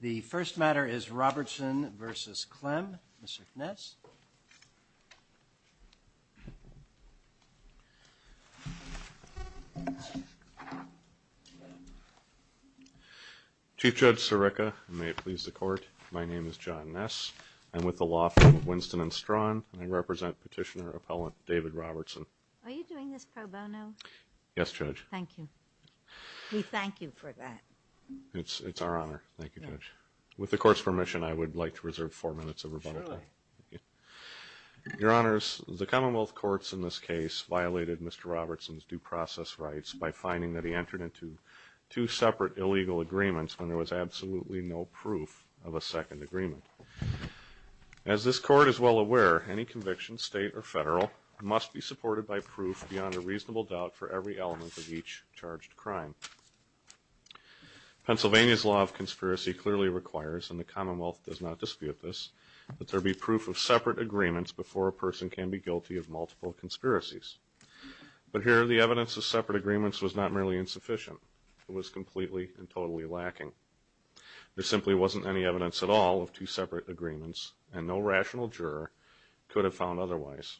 The first matter is Robertson v. Klem. Mr. Ness? Chief Judge Sirica, and may it please the Court, my name is John Ness. I'm with the law firm of Winston & Strawn, and I represent Petitioner-Appellant David Robertson. Are you doing this pro bono? Yes, Judge. Thank you. We thank you for that. It's our honor. Thank you, Judge. With the Court's permission, I would like to reserve four minutes of rebuttal time. Surely. Your Honors, the Commonwealth Courts in this case violated Mr. Robertson's due process rights by finding that he entered into two separate illegal agreements when there was absolutely no proof of a second agreement. As this Court is well aware, any conviction, state or federal, must be supported by proof beyond a reasonable doubt for every element of each charged crime. Pennsylvania's law of conspiracy clearly requires, and the Commonwealth does not dispute this, that there be proof of separate agreements before a person can be guilty of multiple conspiracies. But here, the evidence of separate agreements was not merely insufficient. It was completely and totally lacking. There simply wasn't any evidence at all of two separate agreements, and no rational juror could have found otherwise.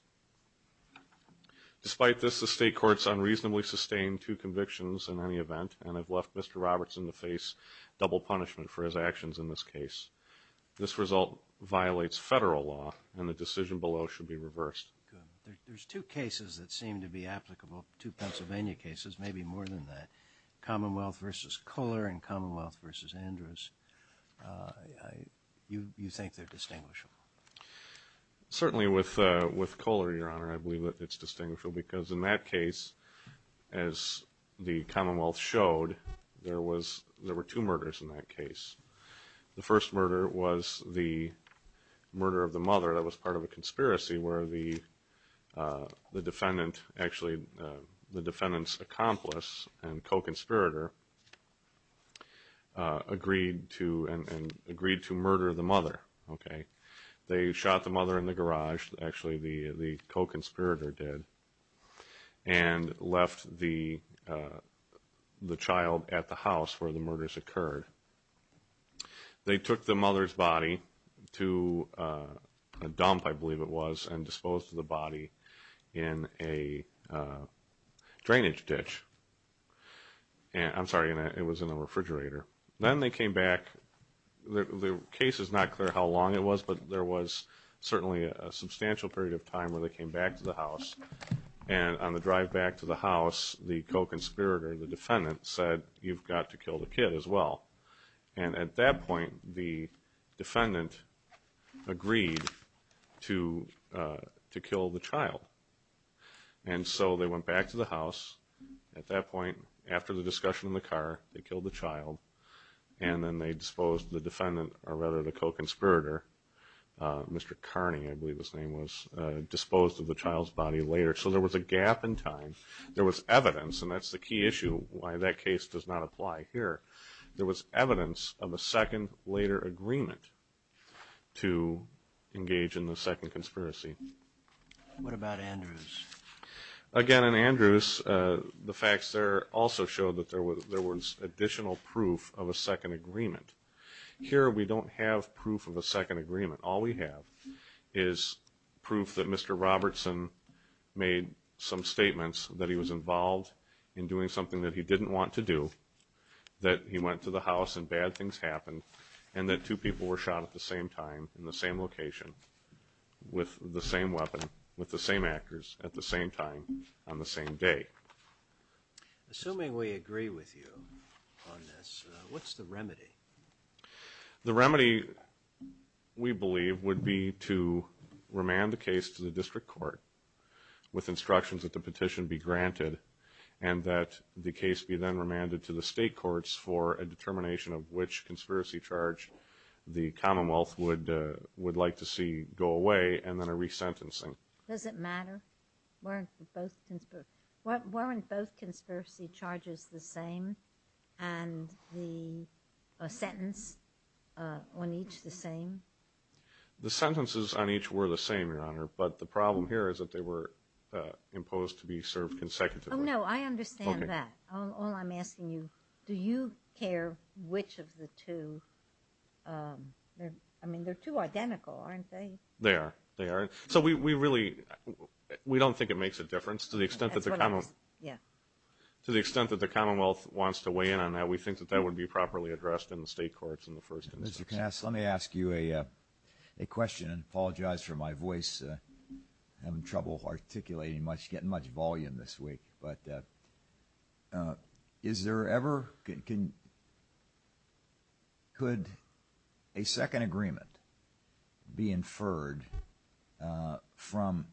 Despite this, the State Courts unreasonably sustained two convictions in any event, and have left Mr. Robertson to face double punishment for his actions in this case. This result violates federal law, and the decision below should be reversed. There's two cases that seem to be applicable to Pennsylvania cases, maybe more than that. Commonwealth v. Koehler and Commonwealth v. Andrews. You think they're distinguishable? Certainly, with Koehler, Your Honor, I believe that it's distinguishable, because in that case, as the Commonwealth showed, there were two murders in that case. The first murder was the murder of the mother that was part of a conspiracy, where the defendant's accomplice and co-conspirator agreed to murder the mother. They shot the mother in the garage, actually the co-conspirator did, and left the child at the house where the murders occurred. They took the mother's body to a dump, I believe it was, and disposed of the body in a drainage ditch. I'm sorry, it was in a refrigerator. Then they came back, the case is not clear how long it was, but there was certainly a substantial period of time where they came back to the house, and on the drive back to the house, the co-conspirator, the defendant, said, you've got to kill the kid as well. And at that point, the defendant agreed to kill the child. And so they went back to the house, and then they disposed of the defendant, or rather the co-conspirator, Mr. Carney, I believe his name was, disposed of the child's body later. So there was a gap in time. There was evidence, and that's the key issue, why that case does not apply here. There was evidence of a second later agreement to engage in the second conspiracy. What about Andrews? Again, in Andrews, the facts there also show that there was additional proof of a second agreement. Here, we don't have proof of a second agreement. All we have is proof that Mr. Robertson made some statements that he was involved in doing something that he didn't want to do, that he went to the house and bad things happened, and that two people were shot at the same time in the same location with the same weapon, with the same actors at the same time on the same day. Assuming we agree with you on this, what's the remedy? The remedy, we believe, would be to remand the case to the district court with instructions that the petition be granted, and that the case be then remanded to the state courts for a determination of which conspiracy charge the Commonwealth would like to see go away, and then a resentencing. Does it matter? Weren't both conspiracy charges the same, and the sentence on each the same? The sentences on each were the same, Your Honor, but the problem here is that they were imposed to be served consecutively. Oh, no, I understand that. All I'm asking you, do you care which of the two? I mean, they're two identical, aren't they? They are. They are. So we really, we don't think it makes a difference. To the extent that the Commonwealth wants to weigh in on that, we think that that would be properly addressed in the state courts in the first instance. Mr. Kass, let me ask you a question. I apologize for my voice. I'm having trouble articulating much, getting much volume this week, but is there ever, could a second agreement be inferred from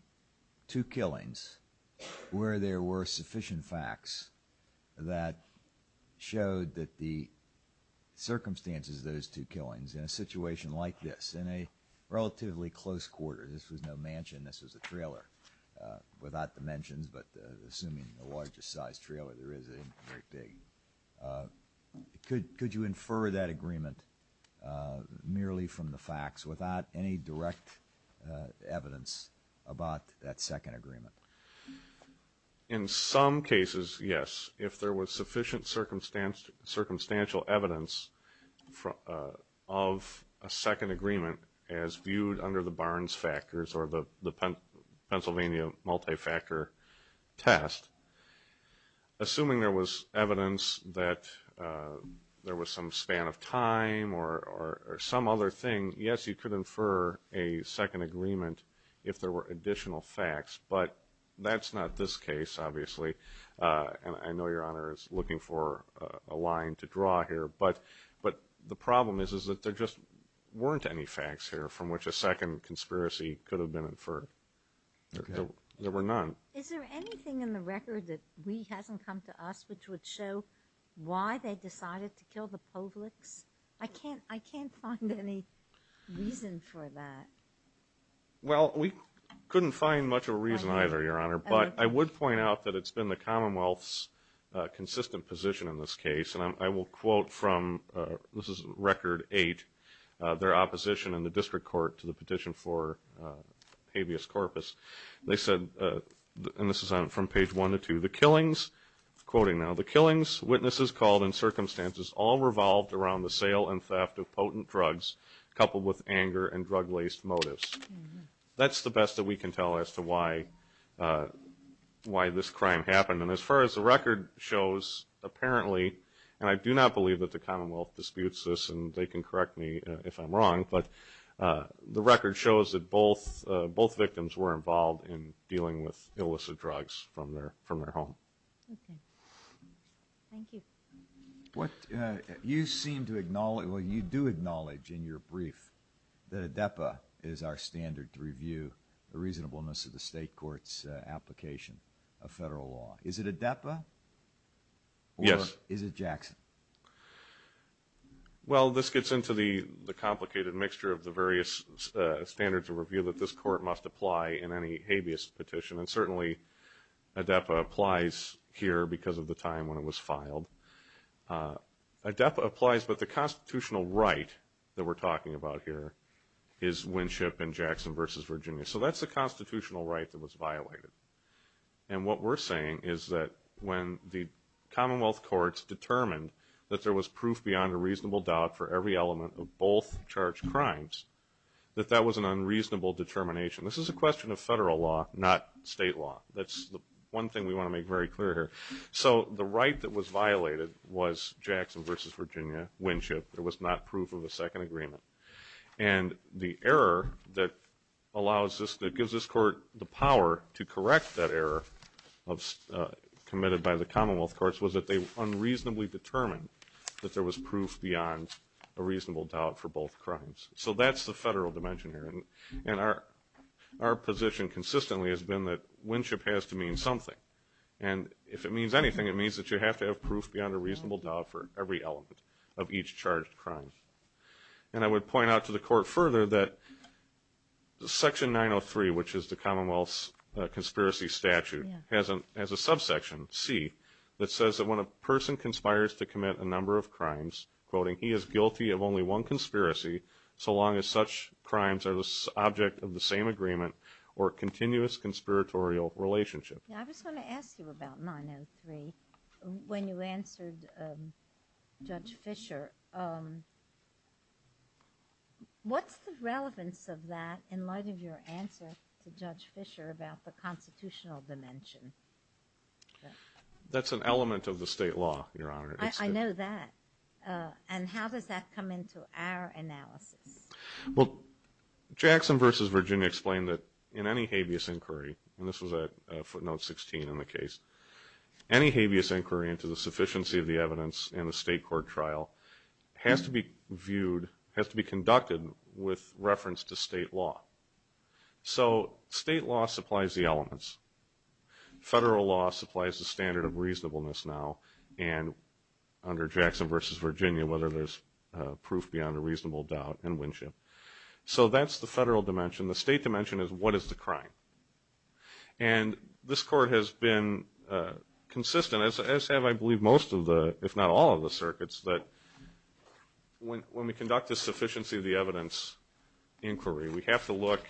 two killings where there were sufficient facts that showed that the circumstances of those two killings in a situation like this, in a relatively close quarter, this was no mansion, this was a trailer, without the mentions, but assuming the largest size trailer there is, very big, could you infer that agreement merely from the facts, without any direct evidence about that second agreement? In some cases, yes. If there was sufficient circumstantial evidence of a second agreement as viewed under the Barnes factors or the Pennsylvania multi-factor test, assuming there was evidence that there was some span of time or some other thing, yes, you could infer a second agreement if there were additional facts, but that's not this case, obviously, and I know Your Honor is looking for a line to draw here, but the problem is that there just weren't any facts here from which a second conspiracy could have been inferred. There were none. Is there anything in the record that hasn't come to us which would show why they decided to kill the Povlicks? I can't find any reason for that. Well, we couldn't find much of a reason either, Your Honor, but I would point out that it's been the Commonwealth's consistent position in this case, and I will quote from, this is record eight, their opposition in the district court to the petition for habeas corpus. They said, and this is from page one to two, the killings, quoting now, the killings, witnesses called and circumstances all revolved around the sale and theft of potent drugs coupled with anger and drug-laced motives. That's the best that we can tell as to why this crime happened, and as far as the record shows, apparently, and I do not believe that the Commonwealth disputes this, and they can correct me if I'm wrong, but the record shows that both victims were involved in dealing with illicit drugs from their home. Okay. Thank you. You seem to acknowledge, well, you do acknowledge in your brief that ADEPA is our standard to review the reasonableness of the state court's application of federal law. Is it ADEPA? Yes. Is it Jackson? Well, this gets into the complicated mixture of the various standards of review that this applies here because of the time when it was filed. ADEPA applies, but the constitutional right that we're talking about here is Winship and Jackson v. Virginia. So that's a constitutional right that was violated, and what we're saying is that when the Commonwealth courts determined that there was proof beyond a reasonable doubt for every element of both charged crimes, that that was an unreasonable determination. This is a question of federal law, not state law. That's the one thing we want to make very clear here. So the right that was violated was Jackson v. Virginia, Winship. There was not proof of a second agreement. And the error that allows this, that gives this court the power to correct that error committed by the Commonwealth courts was that they unreasonably determined that there was proof beyond a reasonable doubt for both crimes. So that's the federal dimension here, and our position consistently has been that Winship has to mean something. And if it means anything, it means that you have to have proof beyond a reasonable doubt for every element of each charged crime. And I would point out to the court further that Section 903, which is the Commonwealth's conspiracy statute, has a subsection, C, that says that when a person conspires to commit a number of crimes, quoting, he is guilty of only one conspiracy so long as such crimes are the subject of a conspiratorial relationship. I was going to ask you about 903 when you answered Judge Fischer. What's the relevance of that in light of your answer to Judge Fischer about the constitutional dimension? That's an element of the state law, Your Honor. I know that. And how does that come into our analysis? Well, Jackson v. Virginia explained that in any habeas inquiry, and this was at footnote 16 in the case, any habeas inquiry into the sufficiency of the evidence in a state court trial has to be viewed, has to be conducted with reference to state law. So state law supplies the elements. Federal law supplies the standard of reasonableness now, and under the federal dimension, the state dimension is what is the crime. And this Court has been consistent, as have I believe most of the, if not all of the circuits, that when we conduct the sufficiency of the evidence inquiry, we have to look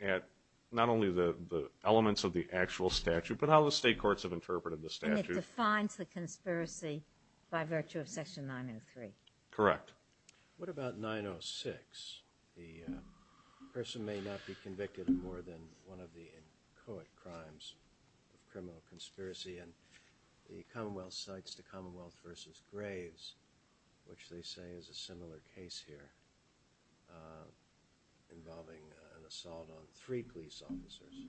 at not only the elements of the actual statute, but how the state courts have interpreted the statute. And it defines the conspiracy by virtue of Section 903. Correct. What about 906? The person may not be convicted of more than one of the inchoate crimes of criminal conspiracy, and the Commonwealth cites the Commonwealth v. Graves, which they say is a similar case here, involving an assault on three police officers.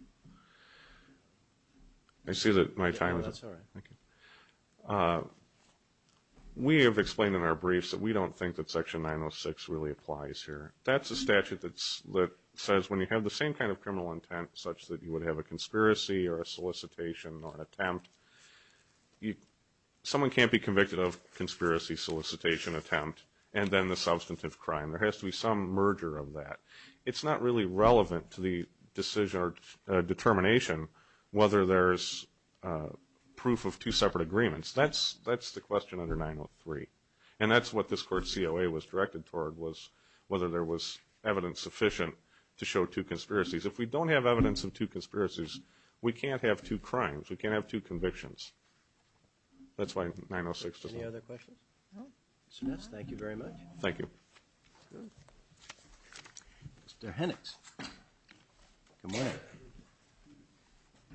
I see that my time is up. Oh, that's all right. Thank you. We have explained in our briefs that we don't think that Section 906 really applies here. That's a statute that says when you have the same kind of criminal intent, such that you would have a conspiracy or a solicitation or an attempt, someone can't be convicted of conspiracy, solicitation, attempt, and then the substantive crime. There has to be some merger of that. It's not really relevant to the decision or determination whether there's proof of two separate agreements. That's the question under 903. And that's what this Court's COA was directed toward, was whether there was evidence sufficient to show two conspiracies. If we don't have evidence of two conspiracies, we can't have two crimes. We can't have two convictions. That's why 906 does not apply. Any other questions? No. Mr. Ness, thank you very much. Thank you. Mr. Hennix. Good morning.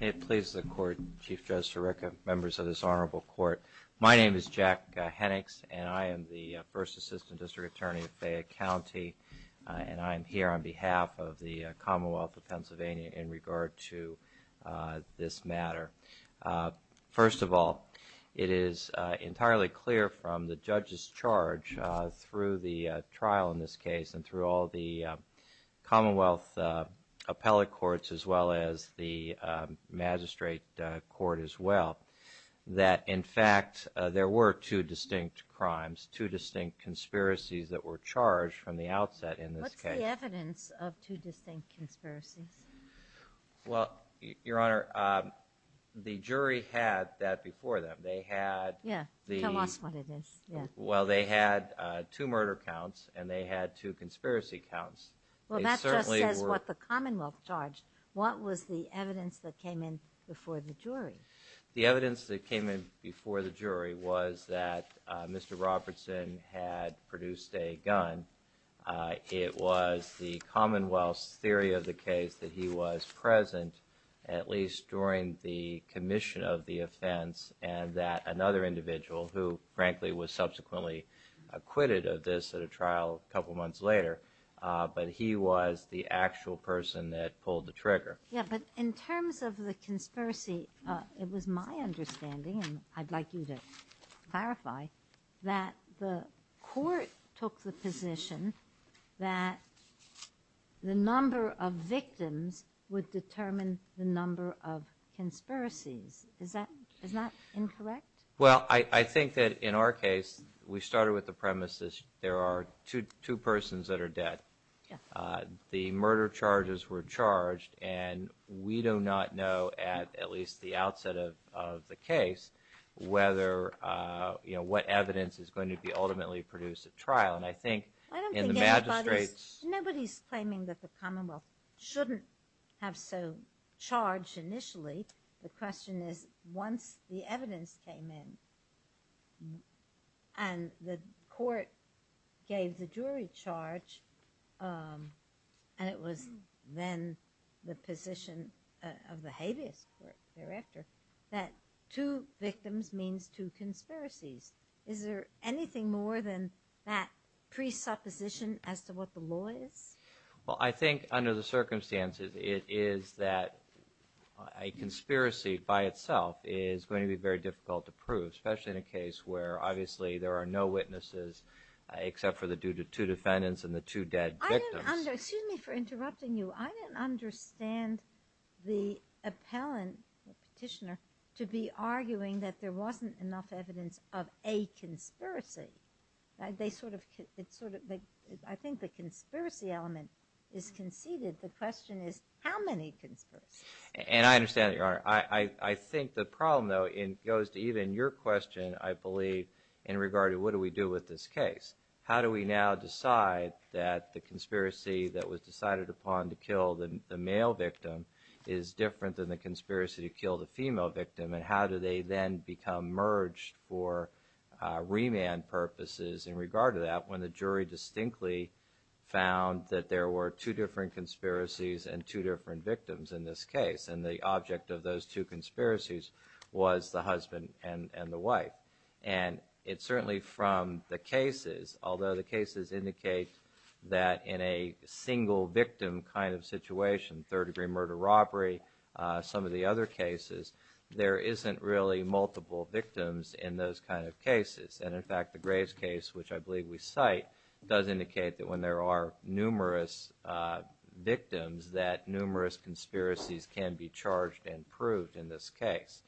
May it please the Court, Chief Judge Sirica, members of this Honorable Court. My name is Jack Hennix, and I am the First Assistant District Attorney of Fayette County, and I am here on behalf of the Commonwealth of Pennsylvania in regard to this matter. First of all, it is entirely clear from the judge's charge through the trial in this case and through all the Commonwealth appellate courts as well as the magistrate court as well, that in fact there were two distinct crimes, two distinct conspiracies that were charged from the outset in this case. What's the evidence of two distinct conspiracies? Well, Your Honor, the jury had that before them. Yeah, tell us what it is. Well, they had two murder counts and they had two conspiracy counts. Well, that just says what the Commonwealth charged. What was the evidence that came in before the jury? The evidence that came in before the jury was that Mr. Robertson had produced a gun. It was the Commonwealth's theory of the case that he was present at least during the commission of the offense and that another individual who, frankly, was subsequently acquitted of this at a trial a couple months later, but he was the actual person that pulled the trigger. Yeah, but in terms of the conspiracy, it was my understanding, and I'd like you to clarify, that the court took the position that the number of victims would determine the number of conspiracies. Is that incorrect? Well, I think that in our case, we started with the premise that there are two persons that are dead. The murder charges were charged, and we do not know, at least at the outset of the case, what evidence is going to be ultimately produced at trial. I don't think anybody's claiming that the Commonwealth shouldn't have so charged initially. The question is, once the evidence came in and the court gave the jury charge, and it was then the position of the habeas court director, that two victims means two conspiracies. Is there anything more than that presupposition as to what the law is? Well, I think under the circumstances, it is that a conspiracy by itself is going to be very difficult to prove, especially in a case where, obviously, there are no witnesses except for the two defendants and the two dead victims. Excuse me for interrupting you. I didn't understand the appellant, the petitioner, to be arguing that there wasn't enough evidence of a conspiracy. I think the conspiracy element is conceded. The question is, how many conspiracies? And I understand that, Your Honor. I think the problem, though, goes to even your question, I believe, in regard to what do we do with this case. How do we now decide that the conspiracy that was decided upon to kill the male victim is different than the conspiracy to kill the female victim, and how do they then become merged for remand purposes in regard to that when the jury distinctly found that there were two different conspiracies and two different victims in this case? And the object of those two conspiracies was the husband and the wife. And it's certainly from the cases, although the cases indicate that in a single victim kind of situation, third-degree murder-robbery, some of the other cases, there isn't really multiple victims in those kind of cases. And in fact, the Graves case, which I believe we cite, does indicate that when there are numerous victims, that numerous conspiracies can be charged and proved in this case.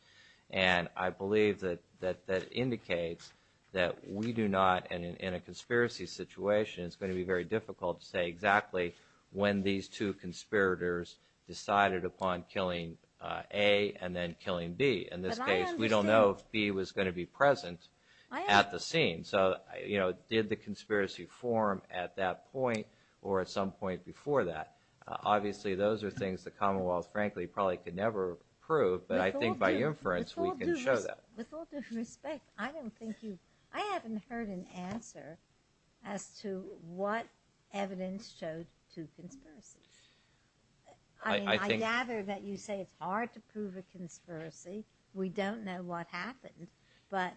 And I believe that that indicates that we do not, and in a conspiracy situation, it's going to be very difficult to say exactly when these two conspirators decided upon killing A and then killing B. In this case, we don't know if B was going to be present at the scene. So, you know, did the conspiracy form at that point or at some point before that? Obviously, those are things the Commonwealth, frankly, probably could never prove, but I think by inference, we can show that. With all due respect, I haven't heard an answer as to what evidence showed two conspiracies. I mean, I gather that you say it's hard to prove a conspiracy. We don't know what happened. But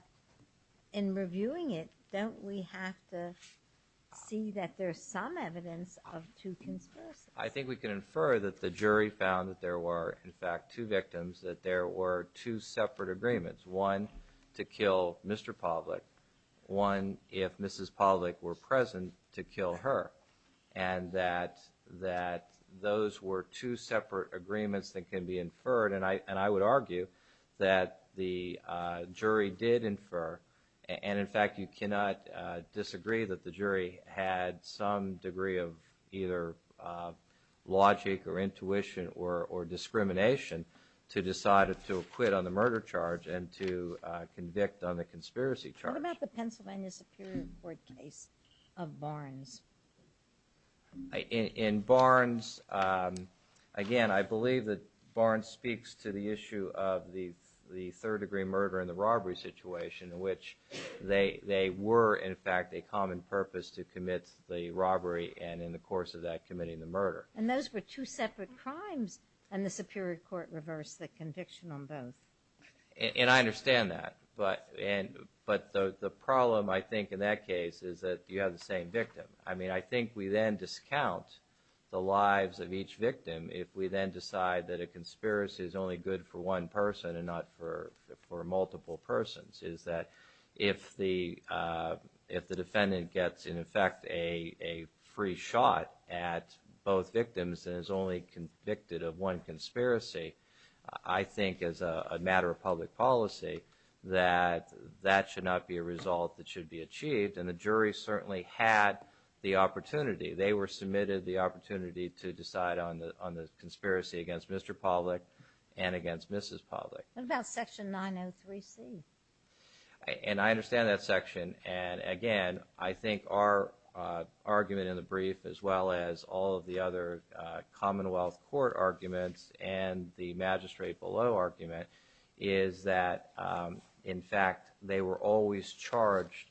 in reviewing it, don't we have to see that there's some evidence of two conspiracies? I think we can infer that the jury found that there were, in fact, two victims, that there were two separate agreements. One, to kill Mr. Pavlik. One, if Mrs. Pavlik were present, to kill her. And that those were two separate agreements that can be inferred, and I would argue that the jury did infer, and in fact, you cannot disagree that the jury had some degree of either logic or intuition or discrimination to decide to acquit on the murder charge and to convict on the conspiracy charge. What about the Pennsylvania Superior Court case of Barnes? In Barnes, again, I believe that Barnes speaks to the issue of the third-degree murder and the robbery situation in which they were, in fact, a common purpose to commit the robbery, and in the course of that, committing the murder. And those were two separate crimes, and the Superior Court reversed the conviction on both. And I understand that, but the problem, I think, in that case is that you have the same victim. I mean, I think we then discount the lives of each victim if we then decide that a conspiracy is only good for one person and not for multiple persons, is that if the defendant gets, in effect, a free shot at both victims and is only convicted of one conspiracy, I think as a matter of public policy, that that should not be a result that should be achieved. And the jury certainly had the opportunity. They were submitted the opportunity to decide on the conspiracy against Mr. Pawlik and against Mrs. Pawlik. What about Section 903C? And I understand that section, and again, I think our argument in the brief, as well as all of the other Commonwealth Court arguments and the magistrate below argument, is that, in fact, they were always charged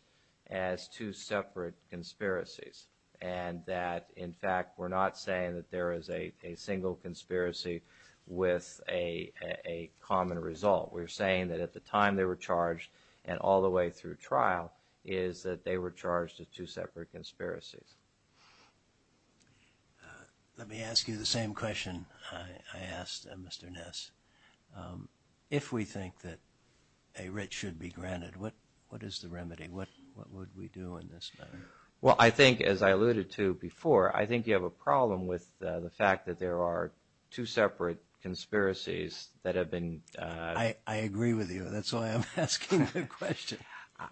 as two separate conspiracies, and that, in fact, we're not saying that there is a single conspiracy with a common result. We're saying that at the time they were charged, and all the way through trial, is that they were charged as two separate conspiracies. Let me ask you the same question I asked Mr. Ness. If we think that a writ should be granted, what is the remedy? What would we do in this matter? Well, I think, as I alluded to before, I think you have a problem with the fact that there are two separate conspiracies that have been... I agree with you. That's why I'm asking the question.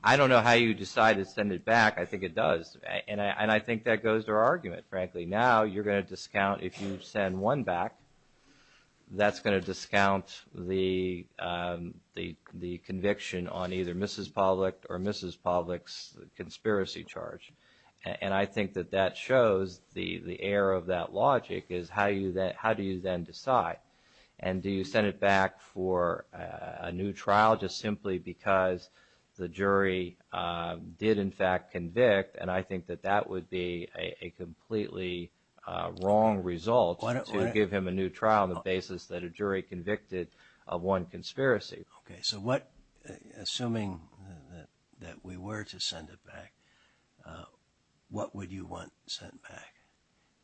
I don't know how you decide to send it back. I think it does. And I think that goes to our argument, frankly. Now, you're going to discount, if you send one back, that's going to discount the conviction on either Mrs. Pawlik or Mrs. Pawlik's conspiracy charge. And I think that that shows the error of that logic, is how do you then decide? And do you send it back for a new trial just simply because the jury did, in fact, convict? And I think that that would be a completely wrong result to give him a new trial on the basis that a jury convicted of one conspiracy. Okay, so assuming that we were to send it back, what would you want sent back?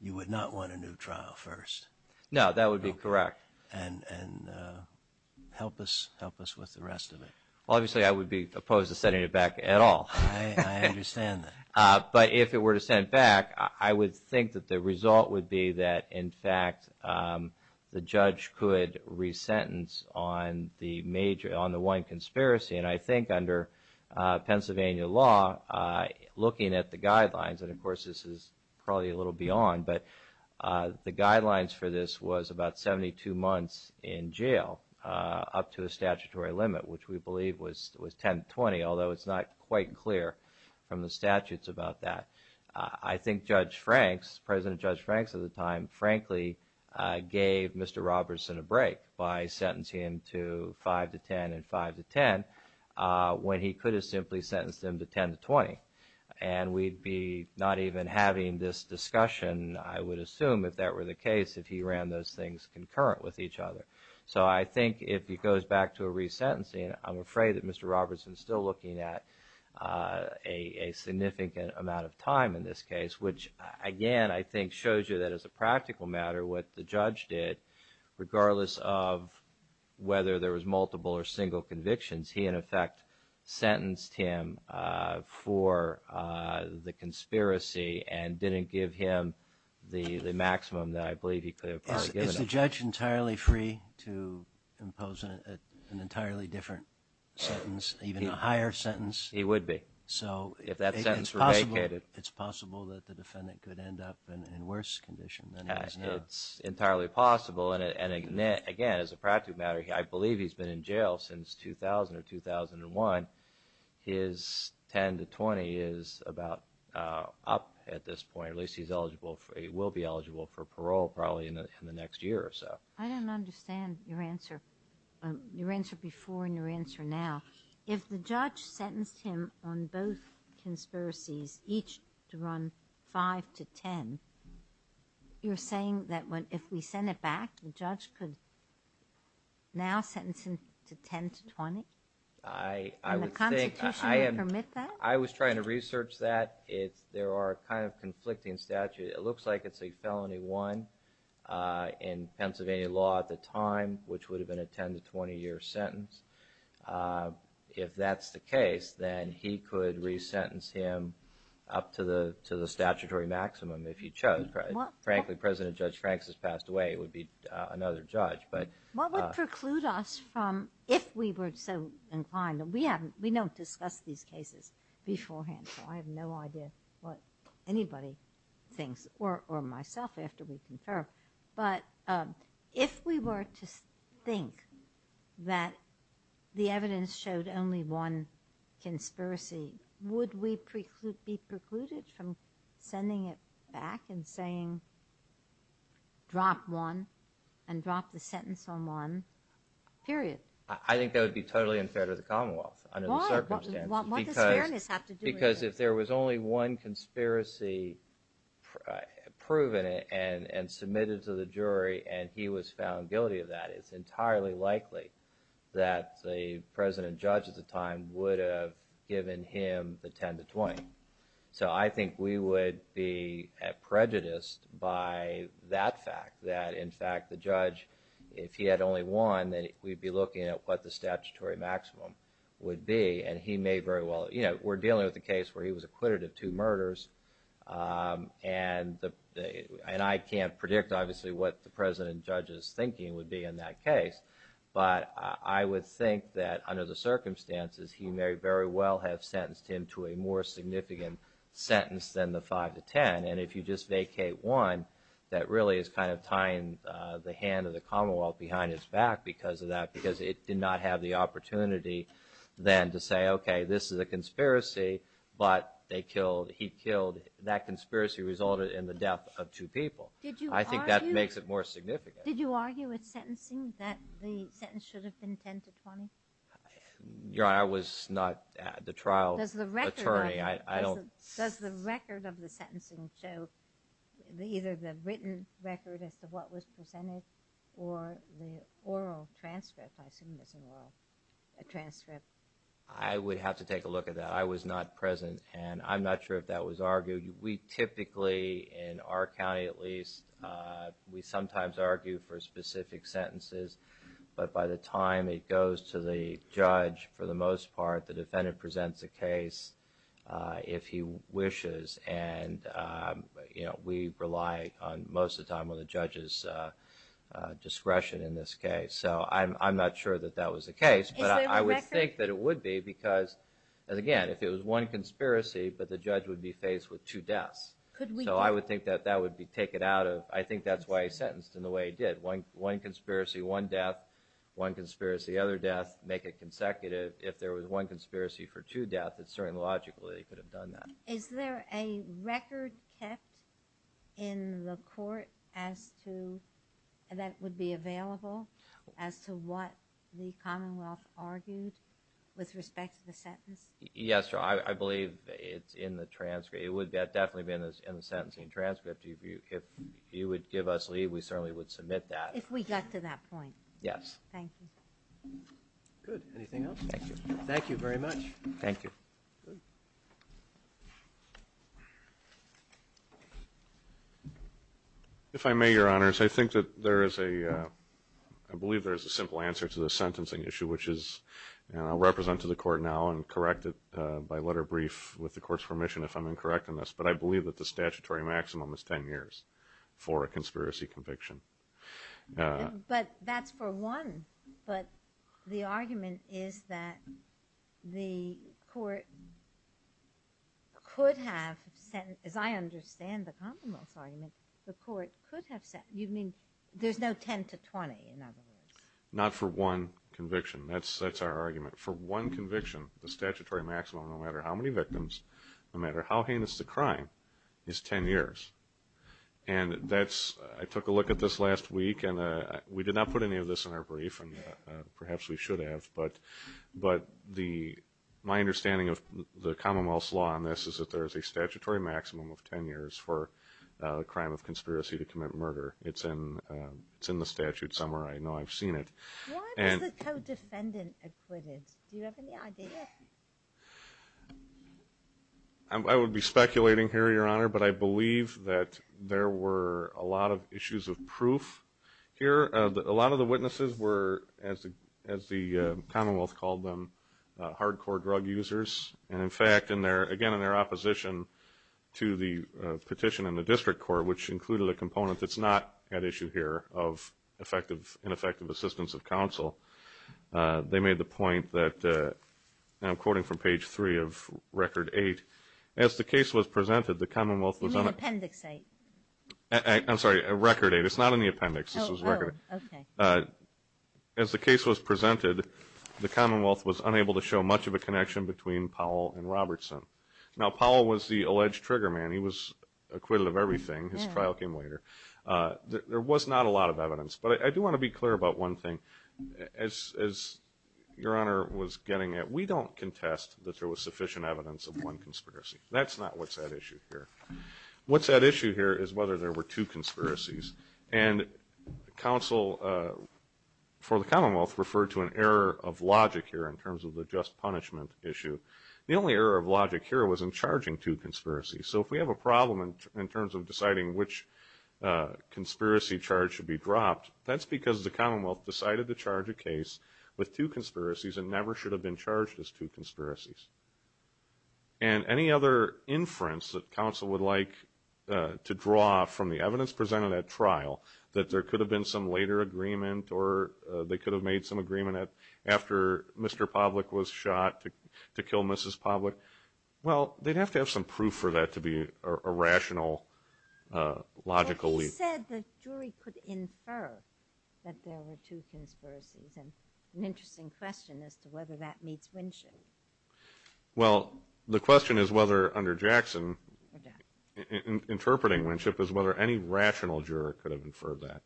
You would not want a new trial first. No, that would be correct. And help us with the rest of it. Obviously, I would be opposed to sending it back at all. I understand that. But if it were to send it back, I would think that the result would be that, in fact, the judge could resentence on the one conspiracy. And I think under Pennsylvania law, looking at the guidelines, and of course, this is probably a little beyond, but the guidelines for this was about 72 months in jail up to the statutory limit, which we believe was 10 to 20, although it's not quite clear from the statutes about that. I think Judge Franks, President Judge Franks at the time, frankly, gave Mr. Robertson a break by sentencing him to 5 to 10 and 5 to 10, when he could have simply sentenced him to 10 to 20. And we'd be not even having this discussion, I would assume, if that were the case, if he ran those things concurrent with each other. So I think if he goes back to a resentencing, I'm afraid that Mr. Robertson is still looking at a significant amount of time in this case, which, again, I think shows you that as a practical matter, what the judge did, regardless of whether there was multiple or single convictions, he, in effect, sentenced him for the conspiracy and didn't give him the maximum that I believe he could have probably given him. Is the judge entirely free to impose an entirely different sentence, even a higher sentence? He would be. So if that sentence were vacated, it's possible that the defendant could end up in worse condition than he is now? It's entirely possible. And again, as a practical matter, I believe he's been in jail since 2000 or 2001. His 10 to 20 is about up at this point. At least he will be eligible for parole probably in the next year or so. I don't understand your answer, your answer before and your answer now. If the judge sentenced him on both conspiracies, each to run 5 to 10, you're saying that if we send it back, the judge could now sentence him to 10 to 20? And the Constitution would permit that? I was trying to research that. There are kind of conflicting statutes. It looks like it's a felony one in Pennsylvania law at the time, which would have been a 10 to 20 year sentence. If that's the case, then he could resentence him up to the statutory maximum if he chose. Frankly, President Judge Franks has passed away. It would be another judge. What would preclude us from, if we were so inclined? We don't discuss these cases beforehand, so I have no idea what anybody thinks, or myself after we confer. But if we were to think that the evidence showed only one conspiracy, would we be precluded from sending it back and saying, drop one and drop the sentence on one, period? I think that would be totally unfair to the Commonwealth. Why? What does fairness have to do with it? Because if there was only one conspiracy proven and submitted to the jury, and he was found guilty of that, it's entirely likely that the President Judge at the time would have given him the 10 to 20. So I think we would be prejudiced by that fact, that in fact the judge, if he had only one, then we'd be looking at what the statutory maximum would be, and he may very well, you know, we're dealing with a case where he was acquitted of two murders, and I can't predict obviously what the President Judge's thinking would be in that case, but I would think that under the circumstances, he may very well have sentenced him to a more significant sentence than the 5 to 10, and if you just vacate one, that really is kind of tying the hand of the fact because of that, because it did not have the opportunity then to say, okay, this is a conspiracy, but they killed, he killed, that conspiracy resulted in the death of two people. Did you argue? I think that makes it more significant. Did you argue with sentencing that the sentence should have been 10 to 20? Your Honor, I was not the trial attorney. Does the record of the sentencing show, either the written record as to what was presented or the oral transcript? I assume it's an oral transcript. I would have to take a look at that. I was not present, and I'm not sure if that was argued. We typically, in our county at least, we sometimes argue for specific sentences, but by the time it goes to the judge, for the most part, the defendant presents a case if he wishes, and we rely most of the time on the judge's discretion in this case. I'm not sure that that was the case, but I would think that it would be because, again, if it was one conspiracy, but the judge would be faced with two deaths. I would think that that would be taken out of, I think that's why he sentenced him the way he did. One conspiracy, one death. One conspiracy, other death. Make it consecutive. If there was one conspiracy for two deaths, it's certainly logical that he could have done that. Is there a record kept in the court that would be available as to what the commonwealth argued with respect to the sentence? Yes, I believe it's in the transcript. It would definitely be in the sentencing transcript. If you would give us leave, we certainly would submit that. If we got to that point. Yes. Thank you. Good. Anything else? Thank you. Thank you very much. Thank you. Good. If I may, Your Honors, I think that there is a, I believe there is a simple answer to the sentencing issue, which is, and I'll represent to the court now and correct it by letter brief with the court's permission if I'm incorrect on this, but I believe that the statutory maximum is 10 years for a conspiracy conviction. But that's for one. But the argument is that the court could have sent, as I understand the commonwealth's argument, the court could have sent, you mean there's no 10 to 20 in other words? Not for one conviction. That's our argument. For one conviction, the statutory maximum, no matter how many victims, no matter how heinous the crime, is 10 years. And that's, I took a look at this last week and we did not put any of this in our brief and perhaps we should have, but the, my understanding of the commonwealth's law on this is that there is a statutory maximum of 10 years for a crime of conspiracy to commit murder. It's in the statute somewhere. I know I've seen it. Why was the co-defendant acquitted? Do you have any idea? I would be speculating here, Your Honor, but I believe that there were a lot of issues of proof here. A lot of the witnesses were, as the commonwealth called them, hardcore drug users. And in fact, in their, again in their opposition to the petition in the district court, which included a component that's not at issue here of effective, ineffective assistance of counsel, they made the point that, and I'm quoting from page three of record eight, as the case was presented, the commonwealth was unable. You mean appendix eight? I'm sorry, record eight. It's not in the appendix. This was record. Oh, okay. As the case was presented, the commonwealth was unable to show much of a connection between Powell and Robertson. Now, Powell was the alleged trigger man. He was acquitted of everything. His trial came later. There was not a lot of evidence. But I do want to be clear about one thing. As Your Honor was getting at, we don't contest that there was sufficient evidence of one conspiracy. That's not what's at issue here. What's at issue here is whether there were two conspiracies. And counsel for the commonwealth referred to an error of logic here in terms of the just punishment issue. The only error of logic here was in charging two conspiracies. So if we have a problem in terms of deciding which conspiracy charge should be dropped, that's because the commonwealth decided to charge a case with two conspiracies and never should have been charged as two conspiracies. And any other inference that counsel would like to draw from the evidence presented at trial, that there could have been some later agreement or they could have made some agreement after Mr. Pavlik was shot to kill Mrs. Pavlik, well, they'd have to have some proof for that to be a rational, logical lead. But he said the jury could infer that there were two conspiracies. An interesting question as to whether that meets Winship. Well, the question is whether under Jackson, interpreting Winship, is whether any rational juror could have inferred that.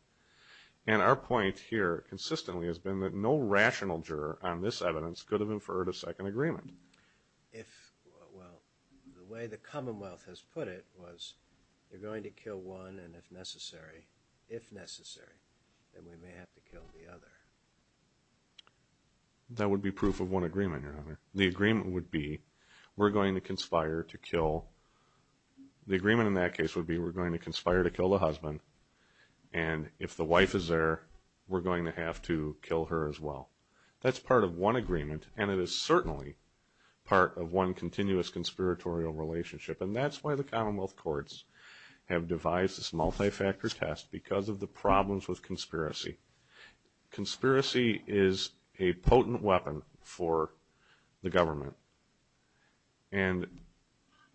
And our point here consistently has been that no rational juror on this evidence could have inferred a second agreement. If, well, the way the commonwealth has put it was, you're going to kill one and if necessary, if necessary, then we may have to kill the other. That would be proof of one agreement, Your Honor. The agreement would be, we're going to conspire to kill, the agreement in that case would be we're going to conspire to kill the husband and if the wife is there, we're going to have to kill her as well. That's part of one agreement and it is certainly part of one continuous conspiratorial relationship. And that's why the commonwealth courts have devised this multi-factor test because of the problems with conspiracy. Conspiracy is a potent weapon for the government. And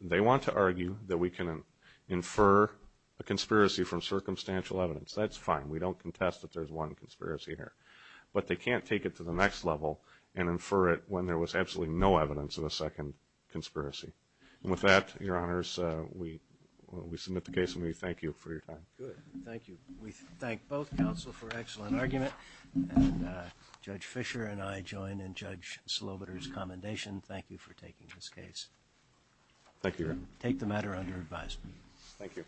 they want to argue that we can infer a conspiracy from circumstantial evidence. That's fine. We don't contest that there's one conspiracy here. But they can't take it to the next level and infer it when there was absolutely no evidence of a second conspiracy. And with that, Your Honors, we submit the case and we thank you for your time. Good. Thank you. We thank both counsel for excellent argument and Judge Fischer and I join in Judge Slobiter's commendation. Thank you for taking this case. Thank you, Your Honor. Take the matter under advisement. Thank you.